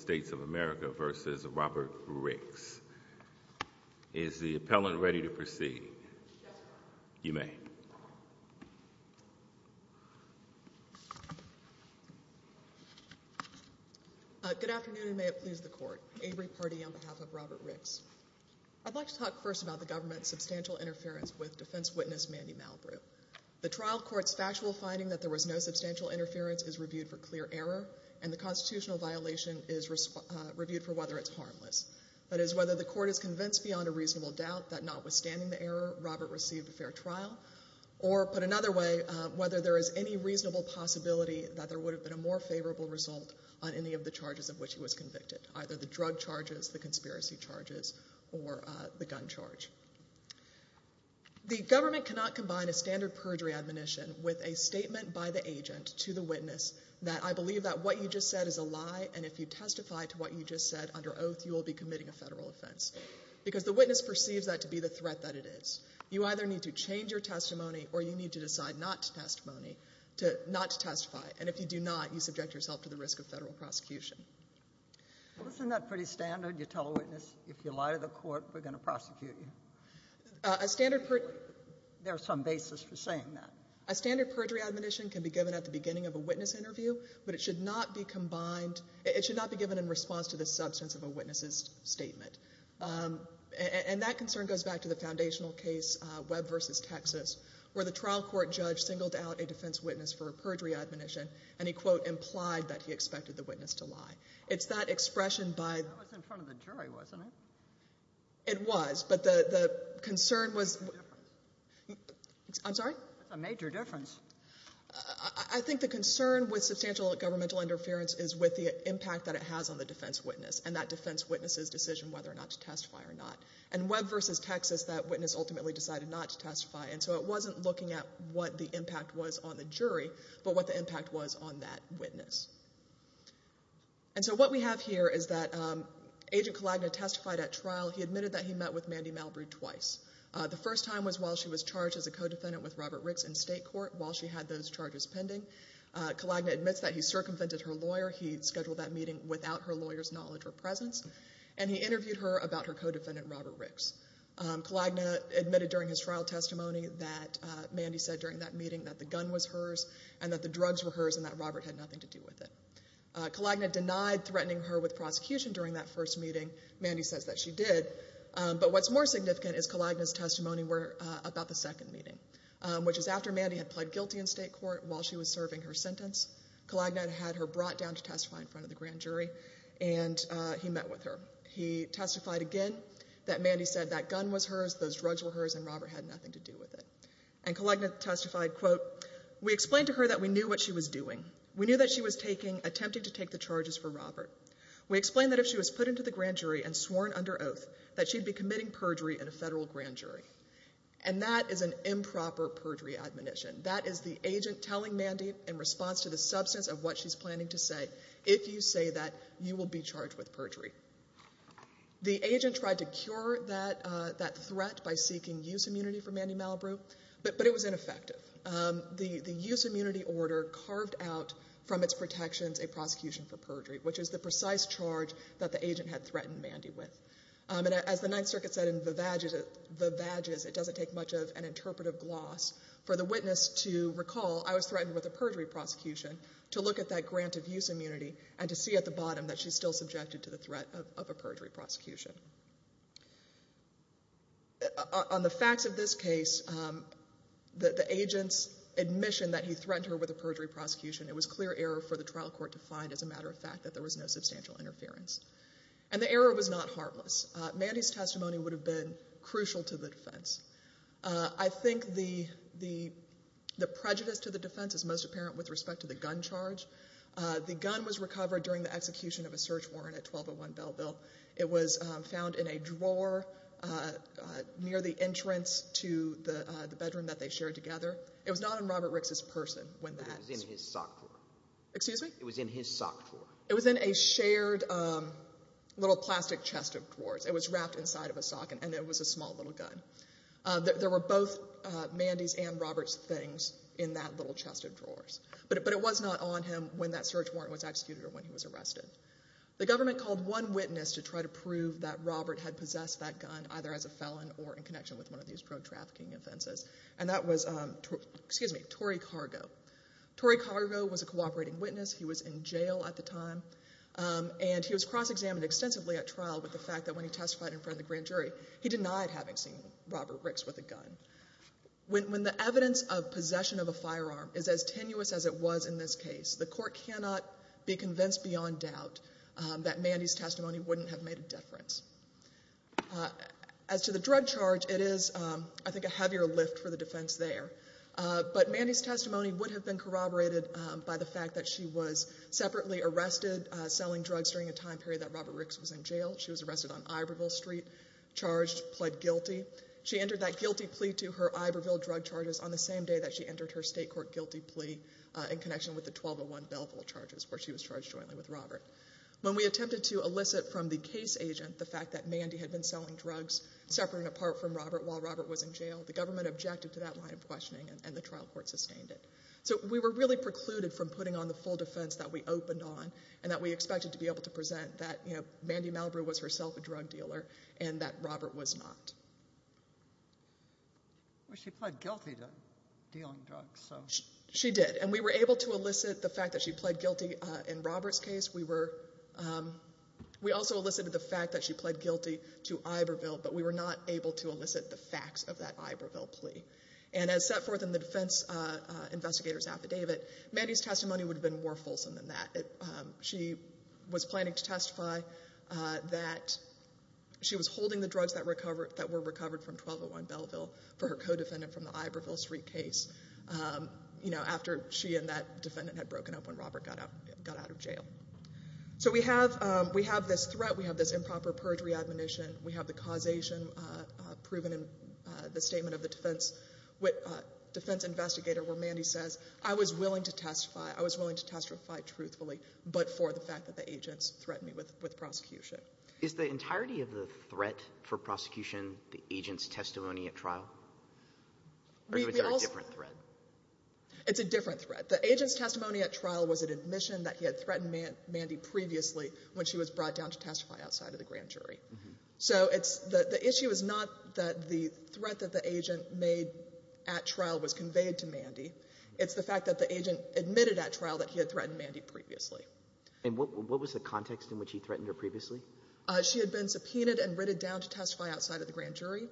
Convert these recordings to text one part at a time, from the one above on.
States of America v. Robert Ricks. Is the appellant ready to proceed? Yes, Your Honor. You may. Good afternoon, and may it please the Court. Avery Pardee on behalf of Robert Ricks. I'd like to talk first about the government's substantial interference with defense witness Mandy Malbrou. The trial court's factual finding that there was no substantial interference is reviewed for clear error, and the Constitutional violation is reviewed for whether it's harmless. That is, whether the Court is convinced beyond a reasonable doubt that notwithstanding the error, Robert received a fair trial, or put another way, whether there is any reasonable possibility that there would have been a more favorable result on any of the charges of which he was convicted, either the drug charges, the conspiracy charges, or the gun charge. The government cannot combine a standard perjury admonition with a statement by the agent to the witness that I believe that what you just said is a lie, and if you testify to what you just said under oath, you will be committing a Federal offense, because the witness perceives that to be the threat that it is. You either need to change your testimony, or you need to decide not to testify, and if you do not, you subject yourself to the risk of Federal prosecution. Well, isn't that pretty standard? You tell a witness, if you lie to the Court, we're going to prosecute you. A standard perjury... There's some basis for saying that. A standard perjury admonition can be given at the beginning of a witness interview, but it should not be combined. It should not be given in response to the substance of a witness's statement. And that concern goes back to the foundational case, Webb v. Texas, where the trial court judge singled out a defense witness for perjury admonition, and he, quote, implied that he expected the witness to lie. It's that expression by... That was in front of the jury, wasn't it? It was, but the concern was... That's a difference. I'm sorry? That's a major difference. I think the concern with substantial governmental interference is with the impact that it has on the defense witness, and that defense witness's decision whether or not to testify or not. In Webb v. Texas, that witness ultimately decided not to testify, and so it wasn't looking at what the impact was on the jury, but what the impact was on that witness. And so what we have here is that Agent Kalagna testified at trial. He admitted that he met with Mandy Malbry twice. The first time was while she was charged as a co-defendant with Robert Ricks in state court, while she had those charges pending. Kalagna admits that he circumvented her lawyer. He scheduled that meeting without her lawyer's knowledge or presence. And he interviewed her about her co-defendant, Robert Ricks. Kalagna admitted during his trial testimony that Mandy said during that meeting that the gun was hers and that the drugs were hers and that Robert had nothing to do with it. Kalagna denied threatening her with prosecution during that first meeting. Mandy says that she did. But what's more significant is Kalagna's testimony about the second meeting, which is after Mandy had pled guilty in state court while she was serving her sentence. Kalagna had her brought down to testify in front of the grand jury, and he met with her. He testified again that Mandy said that gun was hers, those drugs were hers, and Robert had nothing to do with it. And Kalagna testified, quote, that she'd be committing perjury in a federal grand jury. And that is an improper perjury admonition. That is the agent telling Mandy in response to the substance of what she's planning to say, if you say that, you will be charged with perjury. The agent tried to cure that threat by seeking use immunity for Mandy Malibu, but it was ineffective. The use immunity order carved out from its protections a prosecution for perjury, which is the precise charge that the agent had threatened Mandy with. And as the Ninth Circuit said in the badges, it doesn't take much of an interpretive gloss for the witness to recall, I was threatened with a perjury prosecution to look at that grant of use immunity and to see at the bottom that she's still subjected to the threat of a perjury prosecution. On the facts of this case, the agent's admission that he threatened her with a perjury prosecution, it was clear error for the trial court to find, as a matter of fact, that there was no substantial interference. And the error was not harmless. Mandy's testimony would have been crucial to the defense. I think the prejudice to the defense is most apparent with respect to the gun charge. The gun was recovered during the execution of a search warrant at 1201 Belleville. It was found in a drawer near the entrance to the bedroom that they shared together. It was not in Robert Rick's person when that happened. It was in his sock drawer. Excuse me? It was in his sock drawer. It was in a shared little plastic chest of drawers. It was wrapped inside of a sock, and it was a small little gun. There were both Mandy's and Robert's things in that little chest of drawers. But it was not on him when that search warrant was executed or when he was arrested. The government called one witness to try to prove that Robert had possessed that gun, either as a felon or in connection with one of these drug trafficking offenses, and that was Torrey Cargo. Torrey Cargo was a cooperating witness. He was in jail at the time, and he was cross-examined extensively at trial with the fact that when he testified in front of the grand jury, he denied having seen Robert Ricks with a gun. When the evidence of possession of a firearm is as tenuous as it was in this case, the court cannot be convinced beyond doubt that Mandy's testimony wouldn't have made a difference. As to the drug charge, it is, I think, a heavier lift for the defense there. But Mandy's testimony would have been corroborated by the fact that she was separately arrested selling drugs during a time period that Robert Ricks was in jail. She was arrested on Iberville Street, charged, pled guilty. She entered that guilty plea to her Iberville drug charges on the same day that she entered her state court guilty plea in connection with the 1201 Belleville charges where she was charged jointly with Robert. When we attempted to elicit from the case agent the fact that Mandy had been selling drugs separate and apart from Robert while Robert was in jail, the government objected to that line of questioning, and the trial court sustained it. So we were really precluded from putting on the full defense that we opened on and that we expected to be able to present that Mandy Malibu was herself a drug dealer and that Robert was not. Well, she pled guilty to dealing drugs. She did, and we were able to elicit the fact that she pled guilty in Robert's case. We also elicited the fact that she pled guilty to Iberville, but we were not able to elicit the facts of that Iberville plea. And as set forth in the defense investigator's affidavit, Mandy's testimony would have been more fulsome than that. She was planning to testify that she was holding the drugs that were recovered from 1201 Belleville for her co-defendant from the Iberville Street case, you know, after she and that defendant had broken up when Robert got out of jail. So we have this threat. We have this improper perjury admonition. We have the causation proven in the statement of the defense investigator where Mandy says, I was willing to testify. I was willing to testify truthfully but for the fact that the agents threatened me with prosecution. Is the entirety of the threat for prosecution the agent's testimony at trial? Or is there a different threat? It's a different threat. The agent's testimony at trial was an admission that he had threatened Mandy previously when she was brought down to testify outside of the grand jury. So the issue is not that the threat that the agent made at trial was conveyed to Mandy. It's the fact that the agent admitted at trial that he had threatened Mandy previously. And what was the context in which he threatened her previously? She had been subpoenaed and written down to testify outside of the grand jury.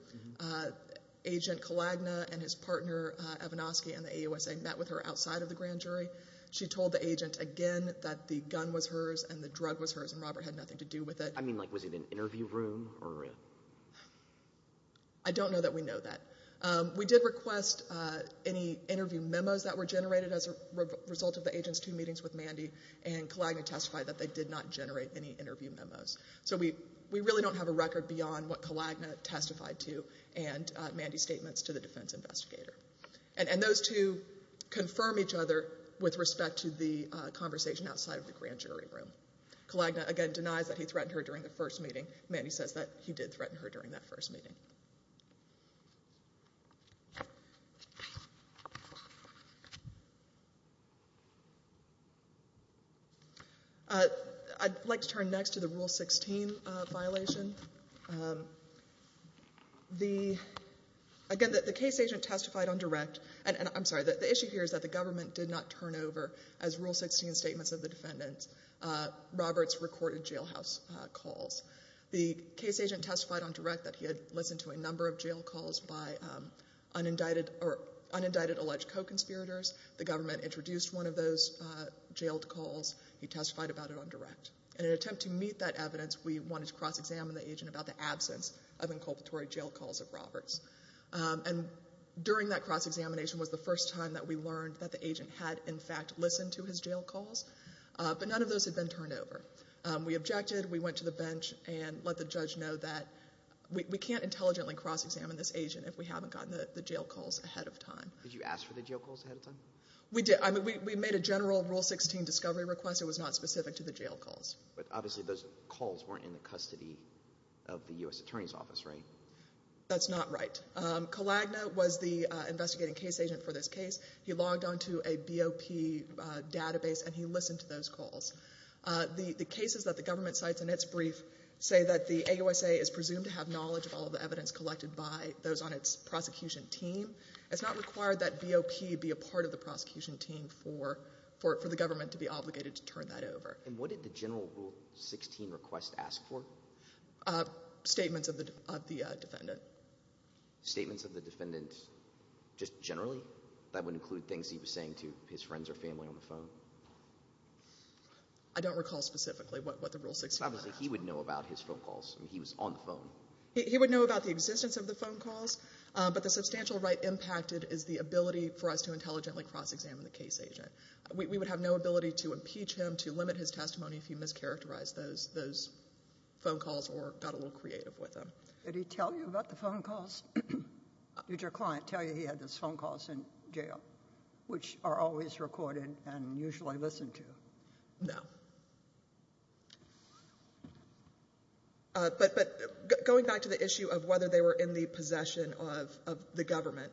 Agent Kalagna and his partner Evanoski and the AUSA met with her outside of the grand jury. She told the agent again that the gun was hers and the drug was hers, and Robert had nothing to do with it. I mean, like, was it an interview room or? I don't know that we know that. We did request any interview memos that were generated as a result of the agent's two meetings with Mandy and Kalagna testified that they did not generate any interview memos. So we really don't have a record beyond what Kalagna testified to and Mandy's statements to the defense investigator. And those two confirm each other with respect to the conversation outside of the grand jury room. Kalagna, again, denies that he threatened her during the first meeting. Mandy says that he did threaten her during that first meeting. Thank you. I'd like to turn next to the Rule 16 violation. Again, the case agent testified on direct. And I'm sorry, the issue here is that the government did not turn over, as Rule 16 statements of the defendant, Robert's recorded jailhouse calls. The case agent testified on direct that he had listened to a number of jail calls by unindicted alleged co-conspirators. The government introduced one of those jailed calls. He testified about it on direct. And in an attempt to meet that evidence, we wanted to cross-examine the agent about the absence of inculpatory jail calls of Robert's. And during that cross-examination was the first time that we learned that the agent had, in fact, listened to his jail calls, but none of those had been turned over. We objected. We went to the bench and let the judge know that we can't intelligently cross-examine this agent if we haven't gotten the jail calls ahead of time. Did you ask for the jail calls ahead of time? We did. I mean, we made a general Rule 16 discovery request. It was not specific to the jail calls. But obviously those calls weren't in the custody of the U.S. Attorney's Office, right? That's not right. Kalagna was the investigating case agent for this case. He logged onto a BOP database, and he listened to those calls. The cases that the government cites in its brief say that the AUSA is presumed to have knowledge of all of the evidence collected by those on its prosecution team. It's not required that BOP be a part of the prosecution team for the government to be obligated to turn that over. And what did the general Rule 16 request ask for? Statements of the defendant. Statements of the defendant just generally? That would include things he was saying to his friends or family on the phone? I don't recall specifically what the Rule 16 request was. Obviously he would know about his phone calls. I mean, he was on the phone. He would know about the existence of the phone calls. But the substantial right impacted is the ability for us to intelligently cross-examine the case agent. We would have no ability to impeach him, to limit his testimony if he mischaracterized those phone calls or got a little creative with them. Did he tell you about the phone calls? Did your client tell you he had those phone calls in jail, which are always recorded and usually listened to? No. But going back to the issue of whether they were in the possession of the government,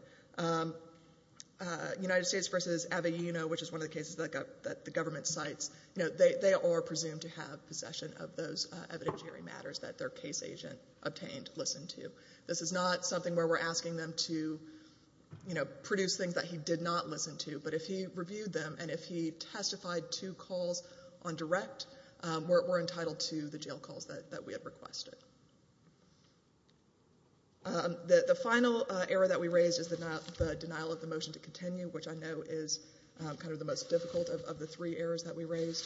United States v. Avellino, which is one of the cases that the government cites, they are presumed to have possession of those evidentiary matters that their case agent obtained, listened to. This is not something where we're asking them to produce things that he did not listen to. But if he reviewed them and if he testified to calls on direct, we're entitled to the jail calls that we had requested. The final error that we raised is the denial of the motion to continue, which I know is kind of the most difficult of the three errors that we raised.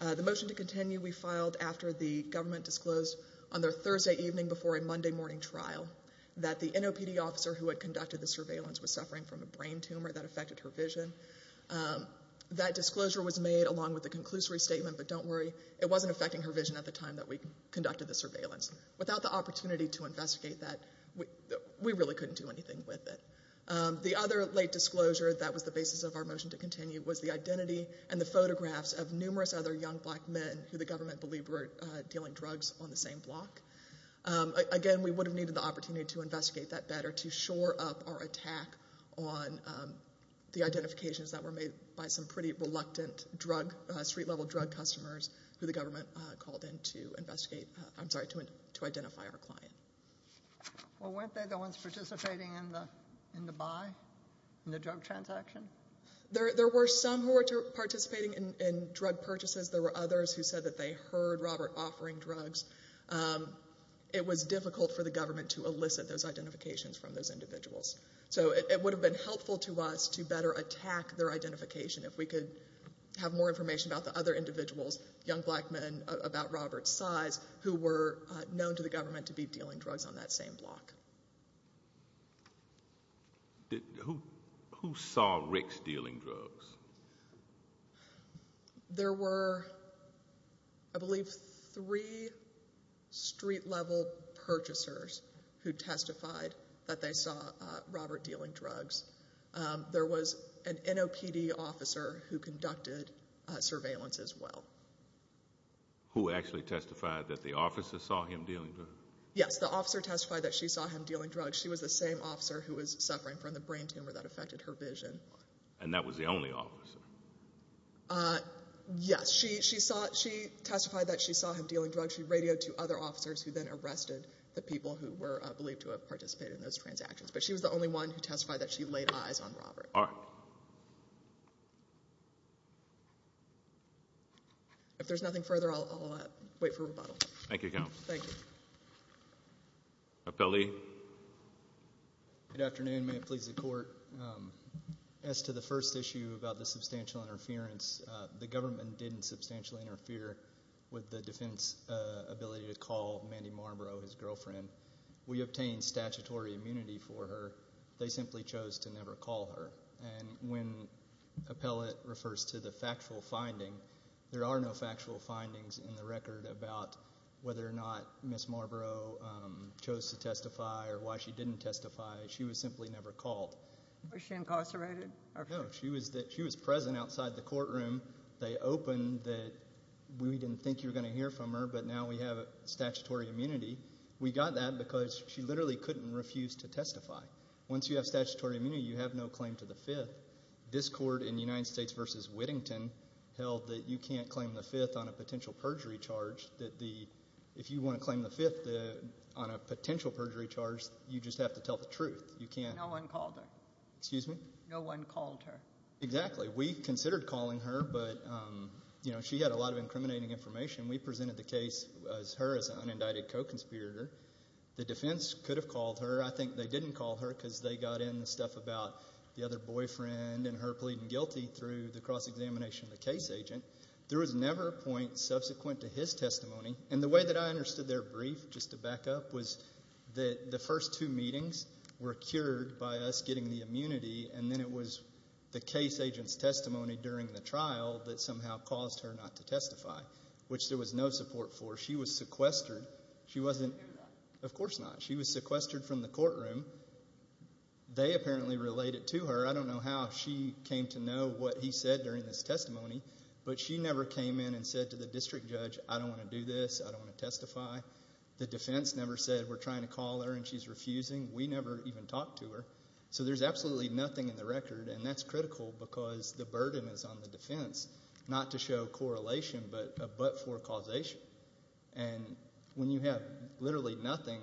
The motion to continue we filed after the government disclosed on their Thursday evening before a Monday morning trial that the NOPD officer who had conducted the surveillance was suffering from a brain tumor that affected her vision. That disclosure was made along with the conclusory statement, but don't worry, it wasn't affecting her vision at the time that we conducted the surveillance. Without the opportunity to investigate that, we really couldn't do anything with it. The other late disclosure that was the basis of our motion to continue was the identity and the photographs of numerous other young black men who the government believed were dealing drugs on the same block. Again, we would have needed the opportunity to investigate that better to shore up our attack on the identifications that were made by some pretty reluctant street-level drug customers who the government called in to identify our client. Well, weren't they the ones participating in the buy, in the drug transaction? There were some who were participating in drug purchases. There were others who said that they heard Robert offering drugs. It was difficult for the government to elicit those identifications from those individuals, so it would have been helpful to us to better attack their identification if we could have more information about the other individuals, young black men about Robert's size, who were known to the government to be dealing drugs on that same block. Who saw Rick stealing drugs? There were, I believe, three street-level purchasers who testified that they saw Robert dealing drugs. There was an NOPD officer who conducted surveillance as well. Who actually testified that the officer saw him dealing drugs? Yes, the officer testified that she saw him dealing drugs. She was the same officer who was suffering from the brain tumor that affected her vision. And that was the only officer? Yes, she testified that she saw him dealing drugs. She radioed to other officers who then arrested the people who were believed to have participated in those transactions. But she was the only one who testified that she laid eyes on Robert. All right. If there's nothing further, I'll wait for rebuttal. Thank you, Counsel. Thank you. Appellee. Good afternoon. May it please the Court. As to the first issue about the substantial interference, the government didn't substantially interfere with the defense ability to call Mandy Marlborough, his girlfriend. We obtained statutory immunity for her. They simply chose to never call her. And when appellate refers to the factual finding, there are no factual findings in the record about whether or not Ms. Marlborough chose to testify or why she didn't testify. She was simply never called. Was she incarcerated? No. She was present outside the courtroom. They opened that we didn't think you were going to hear from her, but now we have statutory immunity. We got that because she literally couldn't refuse to testify. Once you have statutory immunity, you have no claim to the Fifth. This Court in the United States v. Whittington held that you can't claim the Fifth on a potential perjury charge, that if you want to claim the Fifth on a potential perjury charge, you just have to tell the truth. No one called her. Excuse me? No one called her. Exactly. We considered calling her, but she had a lot of incriminating information. We presented the case as her as an unindicted co-conspirator. The defense could have called her. I think they didn't call her because they got in the stuff about the other boyfriend and her pleading guilty through the cross-examination of the case agent. There was never a point subsequent to his testimony. And the way that I understood their brief, just to back up, was that the first two meetings were cured by us getting the immunity, and then it was the case agent's testimony during the trial that somehow caused her not to testify, which there was no support for. She was sequestered. She wasn't in that. Of course not. She was sequestered from the courtroom. They apparently related to her. I don't know how she came to know what he said during this testimony, but she never came in and said to the district judge, I don't want to do this, I don't want to testify. The defense never said we're trying to call her and she's refusing. We never even talked to her. So there's absolutely nothing in the record, and that's critical because the burden is on the defense not to show correlation but for causation. And when you have literally nothing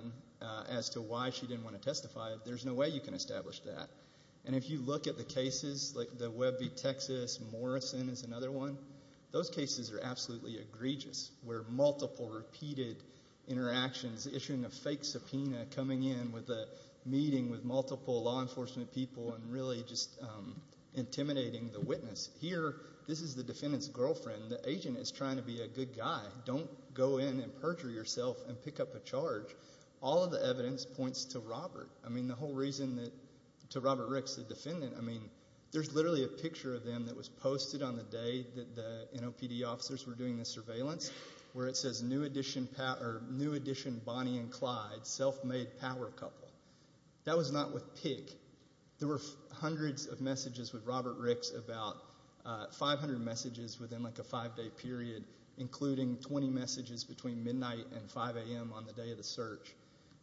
as to why she didn't want to testify, there's no way you can establish that. And if you look at the cases like the Webby, Texas, Morrison is another one, those cases are absolutely egregious where multiple repeated interactions, issuing a fake subpoena, coming in with a meeting with multiple law enforcement people and really just intimidating the witness. Here, this is the defendant's girlfriend. The agent is trying to be a good guy. Don't go in and perjure yourself and pick up a charge. All of the evidence points to Robert. I mean, the whole reason that to Robert Ricks, the defendant, I mean, there's literally a picture of them that was posted on the day that the NOPD officers were doing the surveillance where it says new addition Bonnie and Clyde, self-made power couple. That was not with Pig. There were hundreds of messages with Robert Ricks about 500 messages within like a five-day period, including 20 messages between midnight and 5 a.m. on the day of the search.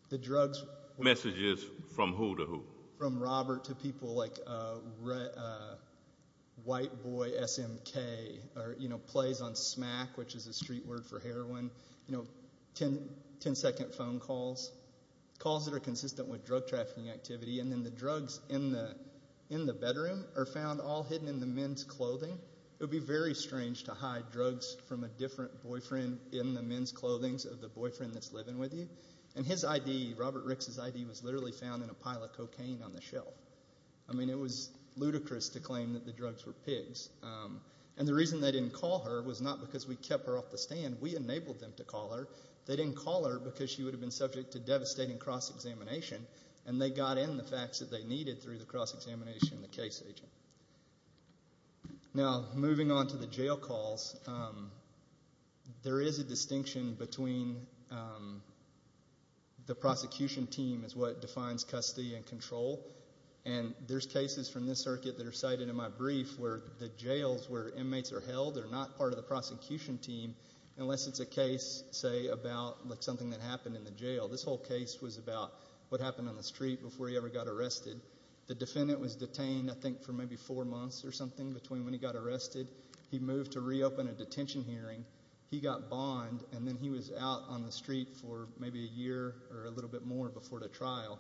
The drugs were messages from who to who? From Robert to people like white boy SMK or, you know, plays on smack, which is a street word for heroin, you know, 10-second phone calls, calls that are consistent with drug trafficking activity, and then the drugs in the bedroom are found all hidden in the men's clothing. It would be very strange to hide drugs from a different boyfriend in the men's clothings of the boyfriend that's living with you. And his ID, Robert Ricks' ID, was literally found in a pile of cocaine on the shelf. I mean, it was ludicrous to claim that the drugs were Pig's. And the reason they didn't call her was not because we kept her off the stand. We enabled them to call her. They didn't call her because she would have been subject to devastating cross-examination, and they got in the facts that they needed through the cross-examination and the case agent. Now, moving on to the jail calls, there is a distinction between the prosecution team is what defines custody and control, and there's cases from this circuit that are cited in my brief where the jails where inmates are held are not part of the prosecution team unless it's a case, say, about something that happened in the jail. This whole case was about what happened on the street before he ever got arrested. The defendant was detained, I think, for maybe four months or something between when he got arrested. He moved to reopen a detention hearing. He got bond, and then he was out on the street for maybe a year or a little bit more before the trial.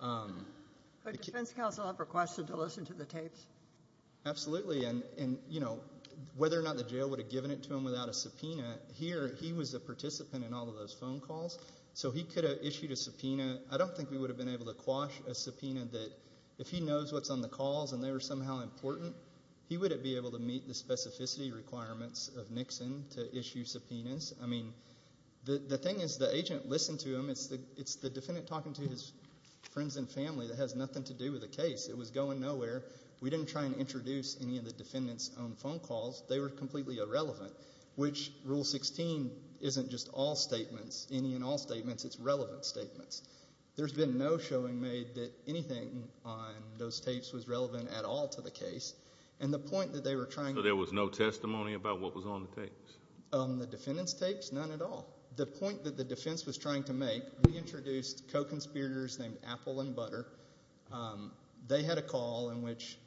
Would defense counsel have requested to listen to the tapes? Absolutely, and whether or not the jail would have given it to him without a subpoena, here he was a participant in all of those phone calls, so he could have issued a subpoena. I don't think we would have been able to quash a subpoena that if he knows what's on the calls and they were somehow important, he wouldn't be able to meet the specificity requirements of Nixon to issue subpoenas. I mean, the thing is the agent listened to him. It's the defendant talking to his friends and family that has nothing to do with the case. It was going nowhere. We didn't try and introduce any of the defendant's own phone calls. They were completely irrelevant, which Rule 16 isn't just all statements, any and all statements. It's relevant statements. There's been no showing made that anything on those tapes was relevant at all to the case, and the point that they were trying to— So there was no testimony about what was on the tapes? On the defendant's tapes, none at all. The point that the defense was trying to make, we introduced co-conspirators named Apple and Butter. They had a call in which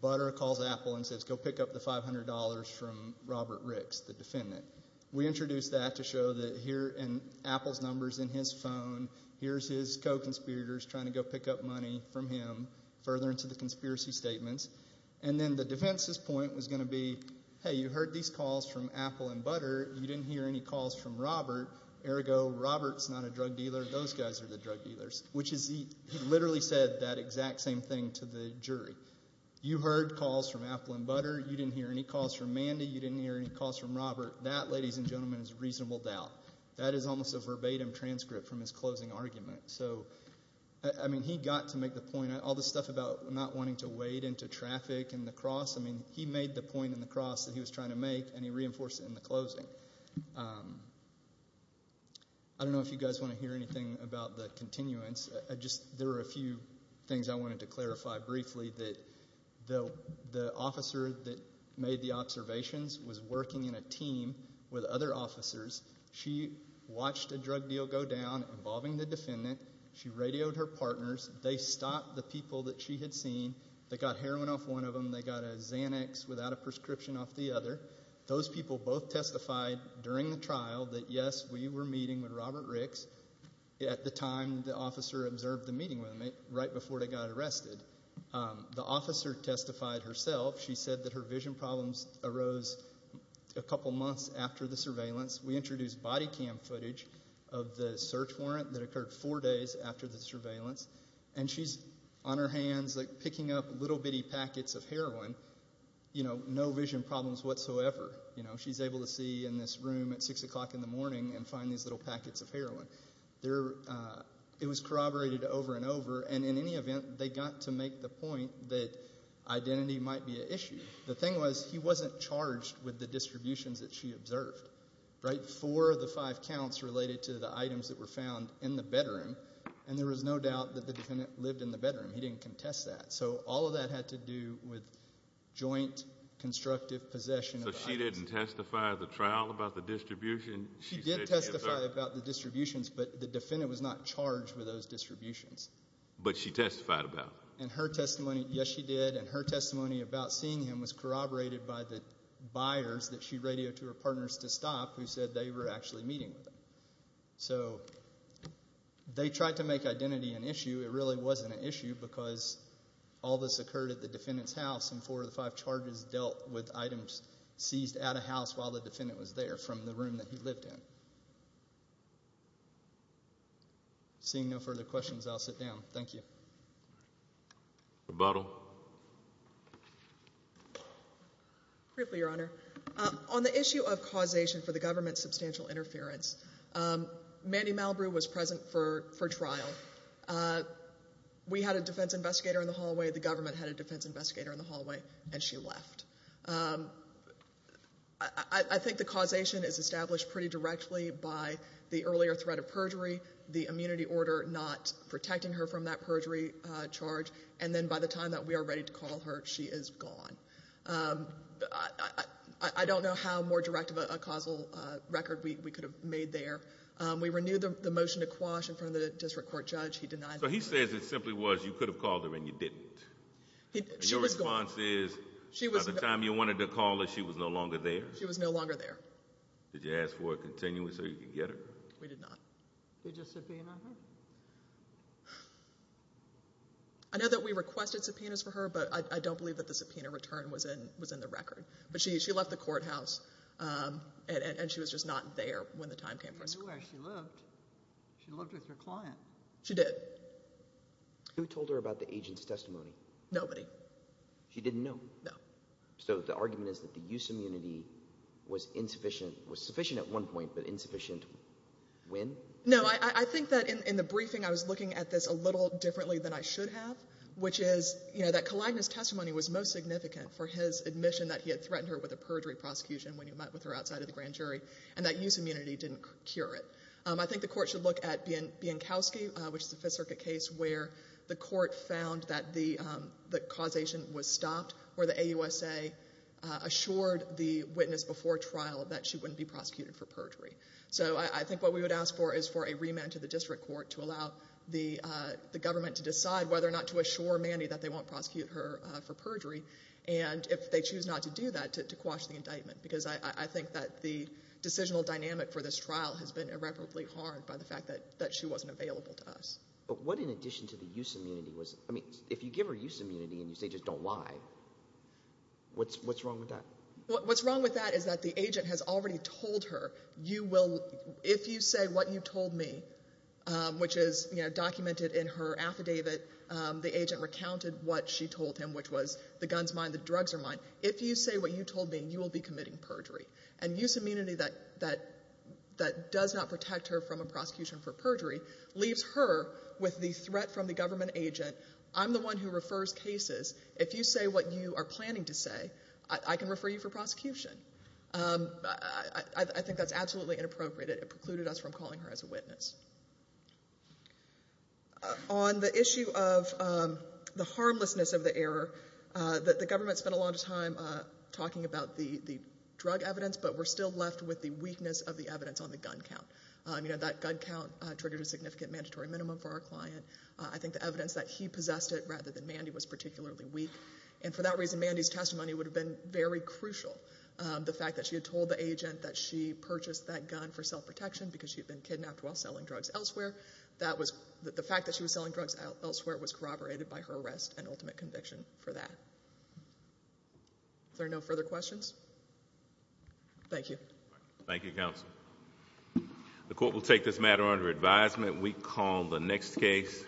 Butter calls Apple and says, go pick up the $500 from Robert Ricks, the defendant. We introduced that to show that here in Apple's numbers in his phone, here's his co-conspirators trying to go pick up money from him further into the conspiracy statements. And then the defense's point was going to be, hey, you heard these calls from Apple and Butter. You didn't hear any calls from Robert. Ergo, Robert's not a drug dealer. Those guys are the drug dealers, which is he literally said that exact same thing to the jury. You heard calls from Apple and Butter. You didn't hear any calls from Mandy. You didn't hear any calls from Robert. That, ladies and gentlemen, is reasonable doubt. That is almost a verbatim transcript from his closing argument. So, I mean, he got to make the point. All the stuff about not wanting to wade into traffic and the cross, I mean, he made the point in the cross that he was trying to make, and he reinforced it in the closing. I don't know if you guys want to hear anything about the continuance. There are a few things I wanted to clarify briefly. The officer that made the observations was working in a team with other officers. She watched a drug deal go down involving the defendant. She radioed her partners. They stopped the people that she had seen. They got heroin off one of them. They got a Xanax without a prescription off the other. Those people both testified during the trial that, yes, we were meeting with Robert Ricks at the time the officer observed the meeting with him, right before they got arrested. The officer testified herself. She said that her vision problems arose a couple months after the surveillance. We introduced body cam footage of the search warrant that occurred four days after the surveillance, and she's on her hands, like, picking up little bitty packets of heroin, you know, with no vision problems whatsoever. You know, she's able to see in this room at 6 o'clock in the morning and find these little packets of heroin. It was corroborated over and over, and in any event, they got to make the point that identity might be an issue. The thing was he wasn't charged with the distributions that she observed, right, for the five counts related to the items that were found in the bedroom, and there was no doubt that the defendant lived in the bedroom. He didn't contest that. So all of that had to do with joint constructive possession of the items. So she didn't testify at the trial about the distribution? She did testify about the distributions, but the defendant was not charged with those distributions. But she testified about them? Yes, she did, and her testimony about seeing him was corroborated by the buyers that she radioed to her partners to stop who said they were actually meeting with him. So they tried to make identity an issue. It really wasn't an issue because all this occurred at the defendant's house, and four of the five charges dealt with items seized at a house while the defendant was there from the room that he lived in. Seeing no further questions, I'll sit down. Thank you. Rebuttal. Briefly, Your Honor. On the issue of causation for the government's substantial interference, Mandy Malbrew was present for trial. We had a defense investigator in the hallway. The government had a defense investigator in the hallway, and she left. I think the causation is established pretty directly by the earlier threat of perjury, the immunity order not protecting her from that perjury charge, and then by the time that we are ready to call her, she is gone. I don't know how more direct of a causal record we could have made there. We renewed the motion to quash in front of the district court judge. He denied that. So he says it simply was you could have called her and you didn't. Your response is by the time you wanted to call her, she was no longer there? She was no longer there. Did you ask for a continuous so you could get her? We did not. Did you subpoena her? I know that we requested subpoenas for her, but I don't believe that the subpoena return was in the record. But she left the courthouse, and she was just not there when the time came for us to call her. She lived with her client. She did. Who told her about the agent's testimony? Nobody. She didn't know? No. So the argument is that the use of immunity was sufficient at one point but insufficient when? No. I think that in the briefing I was looking at this a little differently than I should have, which is that Kalagna's testimony was most significant for his admission that he had threatened her with a perjury prosecution when he met with her outside of the grand jury, and that use of immunity didn't cure it. I think the court should look at Biankowski, which is the Fifth Circuit case, where the court found that the causation was stopped, where the AUSA assured the witness before trial that she wouldn't be prosecuted for perjury. So I think what we would ask for is for a remand to the district court to allow the government to decide whether or not to assure Mandy that they won't prosecute her for perjury, and if they choose not to do that, to quash the indictment, because I think that the decisional dynamic for this trial has been irreparably harmed by the fact that she wasn't available to us. But what in addition to the use of immunity was – I mean, if you give her use of immunity and you say just don't lie, what's wrong with that? What's wrong with that is that the agent has already told her, if you say what you told me, which is documented in her affidavit, the agent recounted what she told him, which was the guns are mine, the drugs are mine. If you say what you told me, you will be committing perjury. And use of immunity that does not protect her from a prosecution for perjury leaves her with the threat from the government agent, I'm the one who refers cases. If you say what you are planning to say, I can refer you for prosecution. I think that's absolutely inappropriate. It precluded us from calling her as a witness. On the issue of the harmlessness of the error, the government spent a lot of time talking about the drug evidence, but we're still left with the weakness of the evidence on the gun count. That gun count triggered a significant mandatory minimum for our client. I think the evidence that he possessed it rather than Mandy was particularly weak, and for that reason Mandy's testimony would have been very crucial. The fact that she had told the agent that she purchased that gun for self-protection because she had been kidnapped while selling drugs elsewhere, the fact that she was selling drugs elsewhere was corroborated by her arrest and ultimate conviction for that. Are there no further questions? Thank you. Thank you, counsel. The court will take this matter under advisement. We call the next case.